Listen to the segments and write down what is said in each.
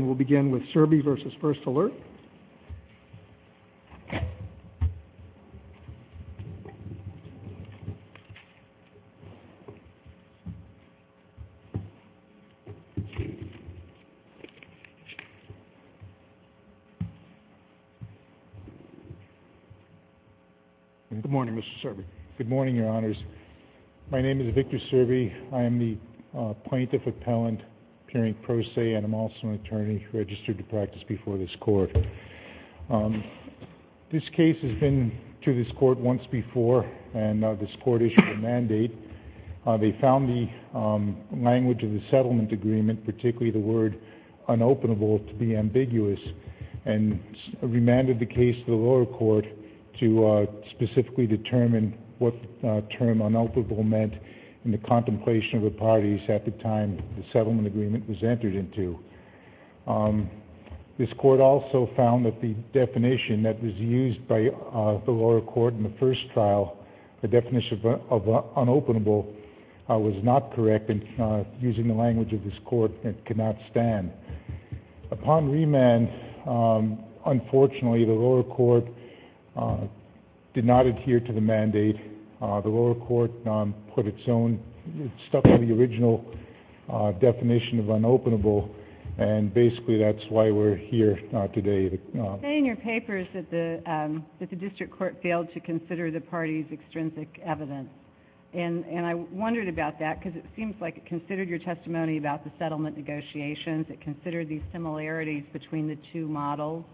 Good morning, Mr. Serby. Good morning, Your Honors. My name is Victor Serby. I am the plaintiff appellant appearing pro se, and I'm also an attorney registered to practice before this Court. This case has been to this Court once before, and this Court issued a mandate. They found the language of the settlement agreement, particularly the word unopenable, to be ambiguous, and remanded the case to the lower court to specifically determine what the term unopenable meant in the contemplation of the parties at the time the settlement agreement was entered into. This Court also found that the definition that was used by the lower court in the first trial, the definition of unopenable, was not correct, and using the language of this Court, it could not stand. Upon remand, unfortunately, the lower court did not adhere to the mandate. The lower court put its own... stuck to the original definition of unopenable, and basically that's why we're here today. You say in your papers that the district court failed to consider the parties' extrinsic evidence, and I wondered about that because it seems like it considered your testimony about the settlement negotiations, it considered the similarities between the two models.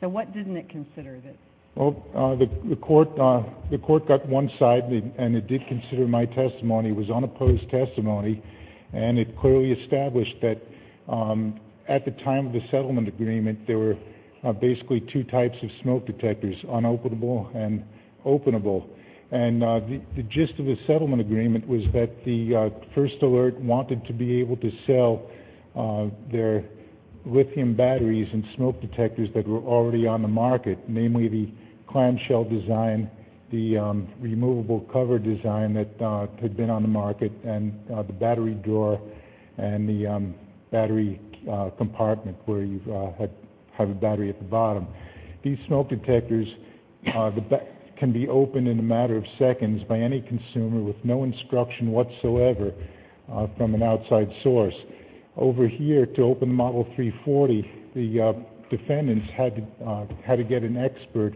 What didn't it consider? The court got one side, and it did consider my testimony, it was unopposed testimony, and it clearly established that at the time of the settlement agreement, there were basically two types of smoke detectors, unopenable and openable, and the gist of the settlement agreement was that the first alert wanted to be able to sell their lithium batteries and smoke detectors that were already on the market, namely the clamshell design, the removable cover design that had been on the market, and the battery drawer, and the battery compartment where you have a battery at the bottom. These smoke detectors can be opened in a matter of seconds by any consumer with no instruction whatsoever from an outside source. Over here, to open the Model 340, the defendants had to get an expert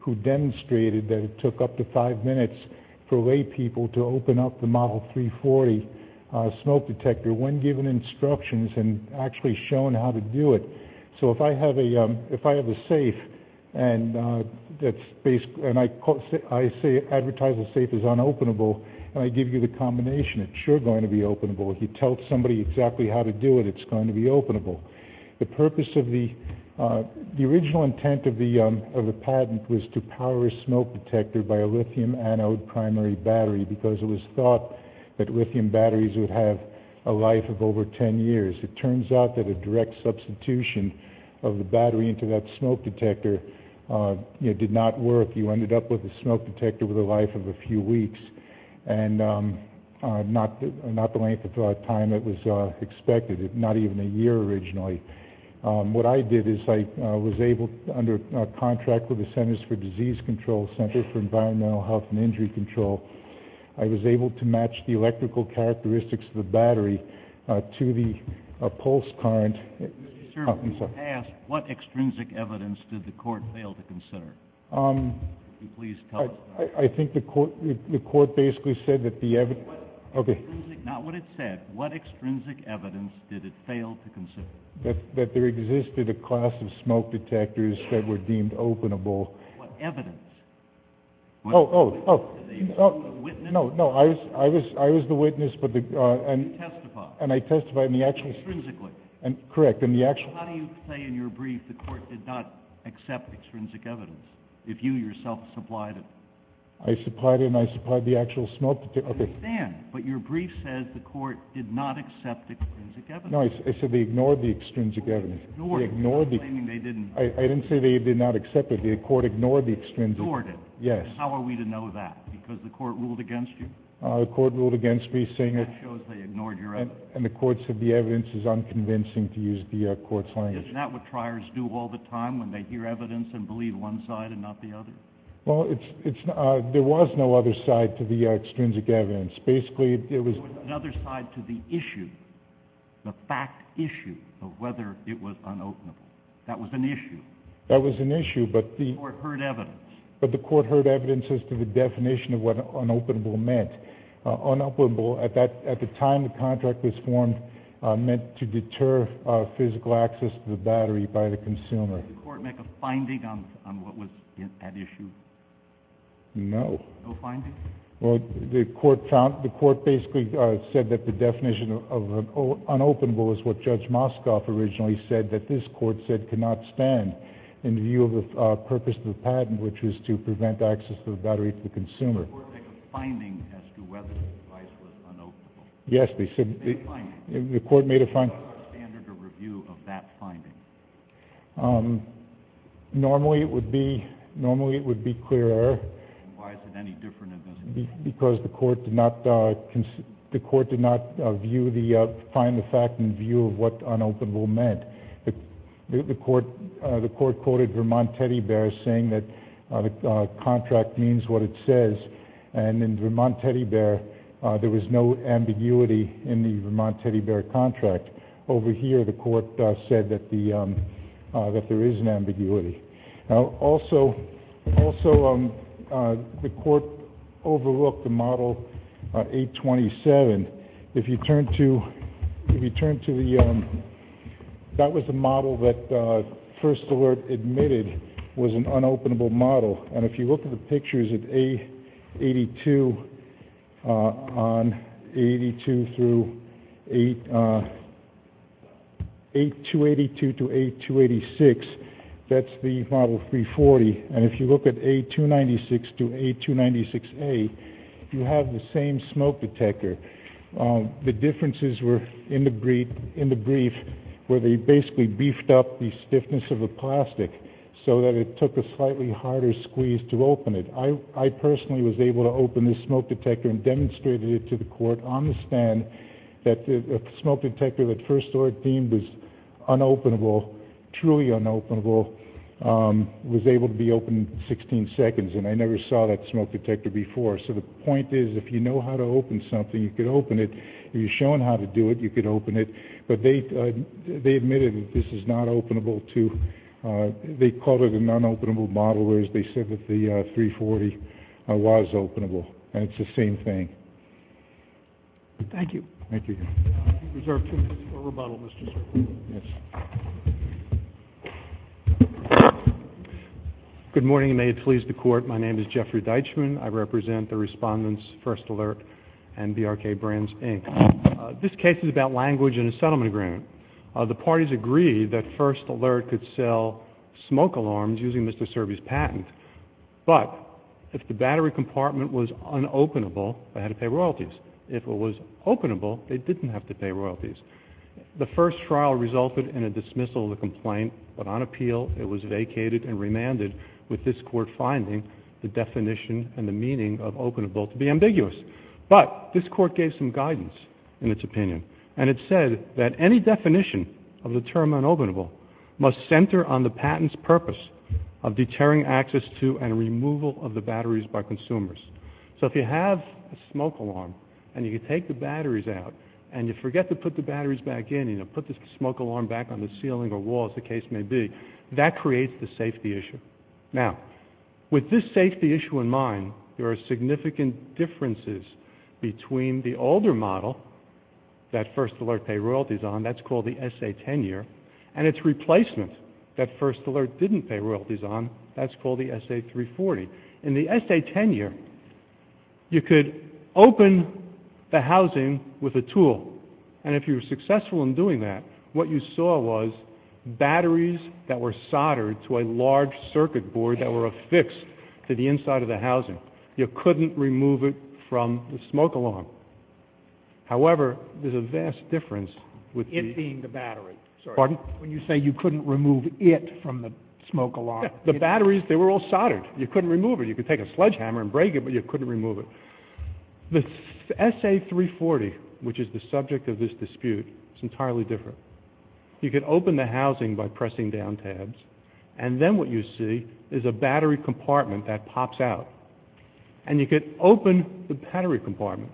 who demonstrated that it took up to five minutes for laypeople to open up the Model 340 smoke detector when given instructions and actually shown how to do it. So if I have a safe, and I say advertise the safe is unopenable, and I give you the combination, it's sure going to be openable, if you tell somebody exactly how to do it, it's going to be openable. The purpose of the, the original intent of the patent was to power a smoke detector by a lithium anode primary battery because it was thought that lithium batteries would have a life of over 10 years. It turns out that a direct substitution of the battery into that smoke detector did not work. You ended up with a smoke detector with a life of a few weeks, and not the length of time that was expected, not even a year originally. What I did is I was able, under contract with the Centers for Disease Control, Center for Environmental Health and Injury Control, I was able to match the electrical characteristics of the battery to the pulse current. Sir, you asked what extrinsic evidence did the court fail to consider? Could you please tell us? I think the court, the court basically said that the evidence, okay. Not what it said, what extrinsic evidence did it fail to consider? That there existed a class of smoke detectors that were deemed openable. What evidence? Oh, oh, oh, oh, no, no, I was, I was, I was the witness, but the, uh, the, uh, the, uh, and. You testified. And I testified in the actual. Extrinsically. And, correct, in the actual. How do you say in your brief the court did not accept extrinsic evidence, if you yourself supplied it? I supplied it, and I supplied the actual smoke detector. I understand, but your brief says the court did not accept extrinsic evidence. No, I, I said they ignored the extrinsic evidence. They ignored it. They ignored the. You're claiming they didn't. I, I didn't say they did not accept it. The court ignored the extrinsic. Ignored it. Yes. And how are we to know that? Because the court ruled against you? Uh, the court ruled against me, saying it. That shows they ignored your evidence. And the court said the evidence is unconvincing to use the, uh, court's language. Isn't that what triers do all the time, when they hear evidence and believe one side and not the other? Well, it's, it's, uh, there was no other side to the, uh, extrinsic evidence. Basically, it was. There was another side to the issue, the fact issue of whether it was unopenable. That was an issue. That was an issue, but the. The court heard evidence. But the court heard evidence as to the definition of what unopenable meant. Unopenable, at that, at the time the contract was formed, uh, meant to deter, uh, physical access to the battery by the consumer. Did the court make a finding on, on what was at issue? No. No finding? Well, the court found, the court basically, uh, said that the definition of, of an unopenable is what Judge Moscoff originally said that this court said cannot stand in view of the, uh, purpose of the patent, which was to prevent access to the battery to the consumer. Did the court make a finding as to whether the device was unopenable? Yes, they said. Did they find it? The court made a finding. What was the standard of review of that finding? Um, normally it would be, normally it would be clear error. Why is it any different in this case? Because the court did not, uh, the court did not view the, uh, find the fact in view of what unopenable meant. The court, uh, the court quoted Vermont Teddy Bears saying that, uh, the contract means what it says. And in Vermont Teddy Bear, uh, there was no ambiguity in the Vermont Teddy Bear contract. Over here, the court, uh, said that the, um, uh, that there is an ambiguity. Now, also, also, um, uh, the court overlooked the Model 827. If you turn to, if you turn to the, um, that was the model that, uh, First Alert admitted was an unopenable model. And if you look at the pictures of A82, uh, on 82 through 8, uh, 8282 to 8286, that's the Model 340. And if you look at A296 to A296A, you have the same smoke detector. Um, the differences were in the brief, in the brief where they basically beefed up the stiffness of the plastic so that it took a slightly harder squeeze to open it. I, I personally was able to open this smoke detector and demonstrated it to the court on the stand that the smoke detector that First Alert deemed as unopenable, truly unopenable, um, was able to be opened in 16 seconds. And I never saw that smoke detector before. So the point is, if you know how to open something, you could open it. If you're shown how to do it, you could open it. But they, uh, they admitted that this is not openable to, uh, they called it an unopenable model, whereas they said that the, uh, 340, uh, was openable. And it's the same thing. Thank you. Thank you. I reserve two minutes for rebuttal, Mr. Serbi. Yes. Good morning and may it please the court. My name is Jeffrey Deitchman. I represent the respondents First Alert and BRK Brands, Inc. Uh, this case is about language in a settlement agreement. Uh, the parties agreed that First Alert could sell smoke alarms using Mr. Serbi's patent. But if the battery compartment was unopenable, they had to pay royalties. If it was openable, they didn't have to pay royalties. The first trial resulted in a dismissal of the complaint, but on appeal, it was vacated and remanded with this court finding the definition and the meaning of openable to be ambiguous. But this court gave some guidance in its opinion. And it said that any definition of the term unopenable must center on the patent's purpose of deterring access to and removal of the batteries by consumers. So if you have a smoke alarm and you take the batteries out and you forget to put the batteries back in, you know, put the smoke alarm back on the ceiling or walls, the case may be, that creates the safety issue. Now, with this safety issue in mind, there are significant differences between the older model that First Alert paid royalties on, that's called the SA-10 year, and its replacement that First Alert didn't pay royalties on, that's called the SA-340. In the SA-10 year, you could open the housing with a tool. And if you were successful in doing that, what you saw was batteries that were soldered to a large circuit board that were affixed to the inside of the housing. You couldn't remove it from the smoke alarm. However, there's a vast difference with the... It being the battery. Pardon? When you say you couldn't remove it from the smoke alarm. The batteries, they were all soldered. You couldn't remove it. You could take a sledgehammer and break it, but you couldn't remove it. The SA-340, which is the subject of this dispute, is entirely different. You could open the housing by pressing down tabs, and then what you see is a battery compartment that pops out. And you could open the battery compartment.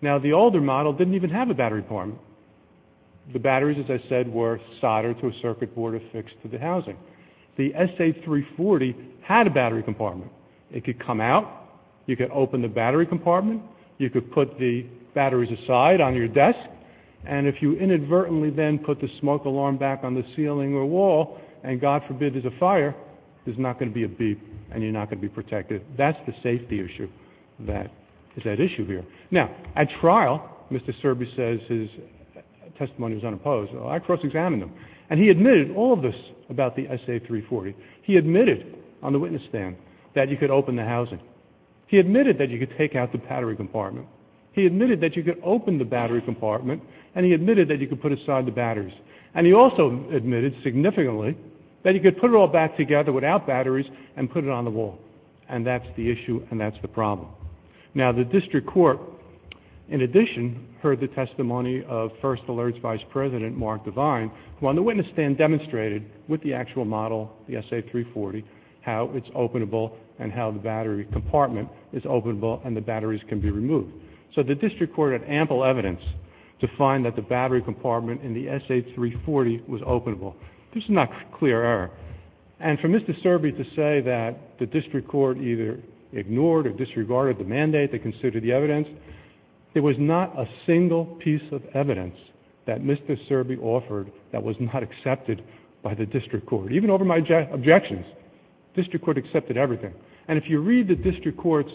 Now, the older model didn't even have a battery compartment. The batteries, as I said, were soldered to a circuit board that were affixed to the housing. The SA-340 had a battery compartment. It could come out. You could open the battery compartment. You could put the batteries aside on your desk. And if you inadvertently then put the smoke alarm back on the ceiling or wall, and God forbid there's a fire, there's not going to be a beep, and you're not going to be protected. That's the safety issue that is at issue here. Now, at trial, Mr. Serby says his testimony was unopposed. I cross-examined him. And he admitted all of this about the SA-340. He admitted on the witness stand that you could open the housing. He admitted that you could take out the battery compartment. He admitted that you could open the battery compartment, and he admitted that you could put aside the batteries. And he also admitted significantly that you could put it all back together without batteries and put it on the wall. And that's the issue, and that's the problem. Now, the district court, in addition, heard the testimony of First Alerts Vice President Mark Devine, who on the witness stand demonstrated with the actual model, the SA-340, how it's openable and how the battery compartment is openable and the batteries can be removed. So the district court had ample evidence to find that the battery compartment in the SA-340 was openable. This is not clear error. And for Mr. Serby to say that the district court either ignored or disregarded the mandate that considered the evidence, it was not a single piece of evidence that Mr. Serby offered that was not accepted by the district court. Even over my objections, the district court accepted everything. And if you read the district court's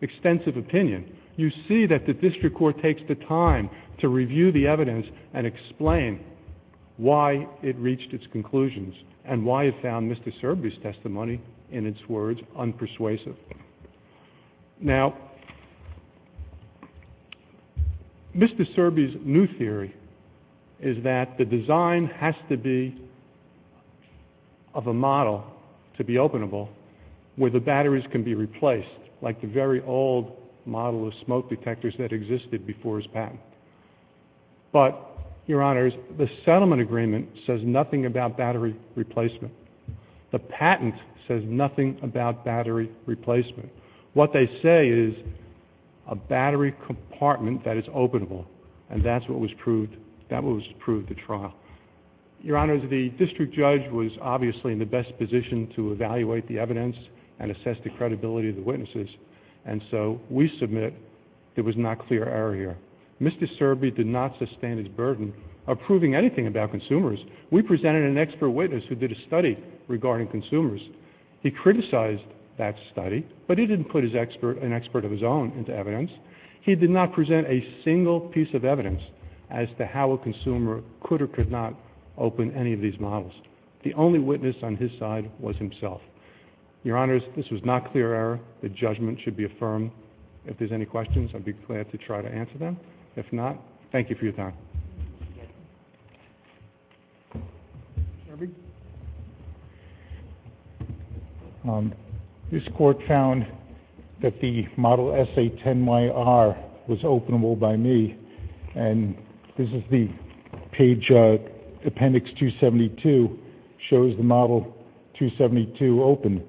extensive opinion, you see that the district court takes the time to review the evidence and explain why it reached its conclusions and why it found Mr. Serby's testimony, in its words, unpersuasive. Now, Mr. Serby's new theory is that the design has to be of a model to be openable where the batteries can be replaced, like the very old model of smoke detectors that existed before his patent. But, Your Honors, the settlement agreement says nothing about battery replacement. The patent says nothing about battery replacement. What they say is a battery compartment that is openable. And that's what was proved. That was proved at trial. Your Honors, the district judge was obviously in the best position to evaluate the evidence and assess the credibility of the witnesses. And so we submit there was not clear error here. Mr. Serby did not sustain his burden of proving anything about consumers. We presented an expert witness who did a study regarding consumers. He criticized that study, but he didn't put an expert of his own into evidence. He did not present a single piece of evidence as to how a consumer could or could not open any of these models. The only witness on his side was himself. Your Honors, this was not clear error. The judgment should be affirmed. If there's any questions, I'd be glad to try to answer them. If not, thank you for your time. Mr. Serby? This court found that the Model SA-10YR was openable by me. And this is the page, Appendix 272, shows the Model 272 open.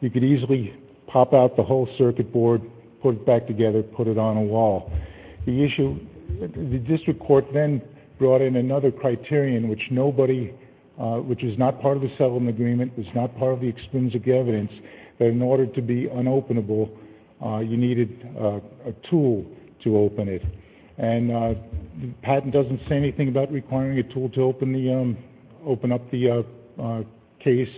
You could easily pop out the whole circuit board, put it back together, put it on a wall. The issue, the district court then brought in another criterion in which nobody, which is not part of the settlement agreement, is not part of the extrinsic evidence, that in order to be unopenable, you needed a tool to open it. And the patent doesn't say anything about requiring a tool to open up the case,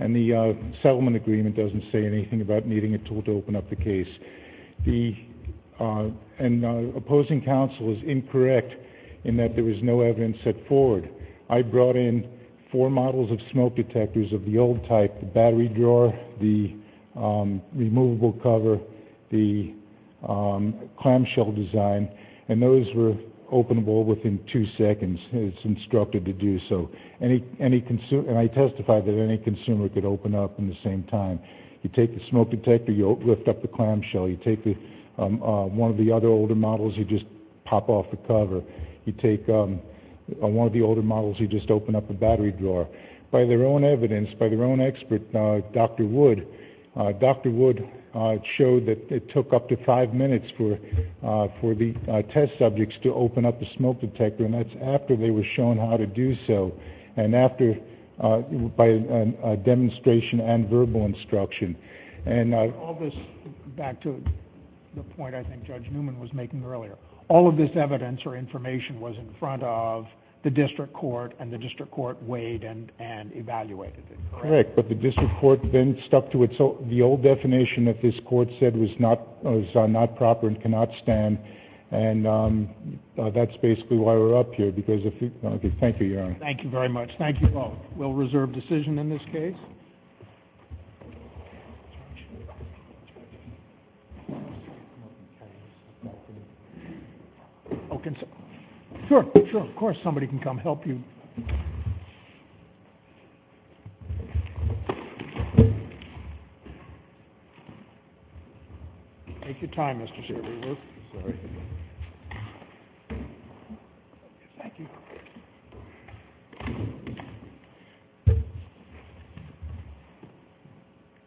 and the settlement agreement doesn't say anything about needing a tool to open up the case. And opposing counsel is incorrect in that there was no evidence set forward. I brought in four models of smoke detectors of the old type, the battery drawer, the removable cover, the clamshell design, and those were openable within two seconds. It's instructed to do so. And I testified that any consumer could open up in the same time. You take the smoke detector, you lift up the clamshell. You take one of the other older models, you just pop off the cover. You take one of the older models, you just open up the battery drawer. By their own evidence, by their own expert, Dr. Wood, Dr. Wood showed that it took up to five minutes for the test subjects to open up the smoke detector, and that's after they were shown how to do so. And after, by demonstration and verbal instruction. All of this, back to the point I think Judge Newman was making earlier, all of this evidence or information was in front of the district court, and the district court weighed and evaluated it. Correct, but the district court then stuck to it. So the old definition that this court said was not proper and cannot stand, and that's basically why we're up here. Thank you, Your Honor. Thank you very much. Thank you both. We'll reserve decision in this case. Sure, sure, of course somebody can come help you. Take your time, Mr. Shriver. Sorry. Thank you. Thank you.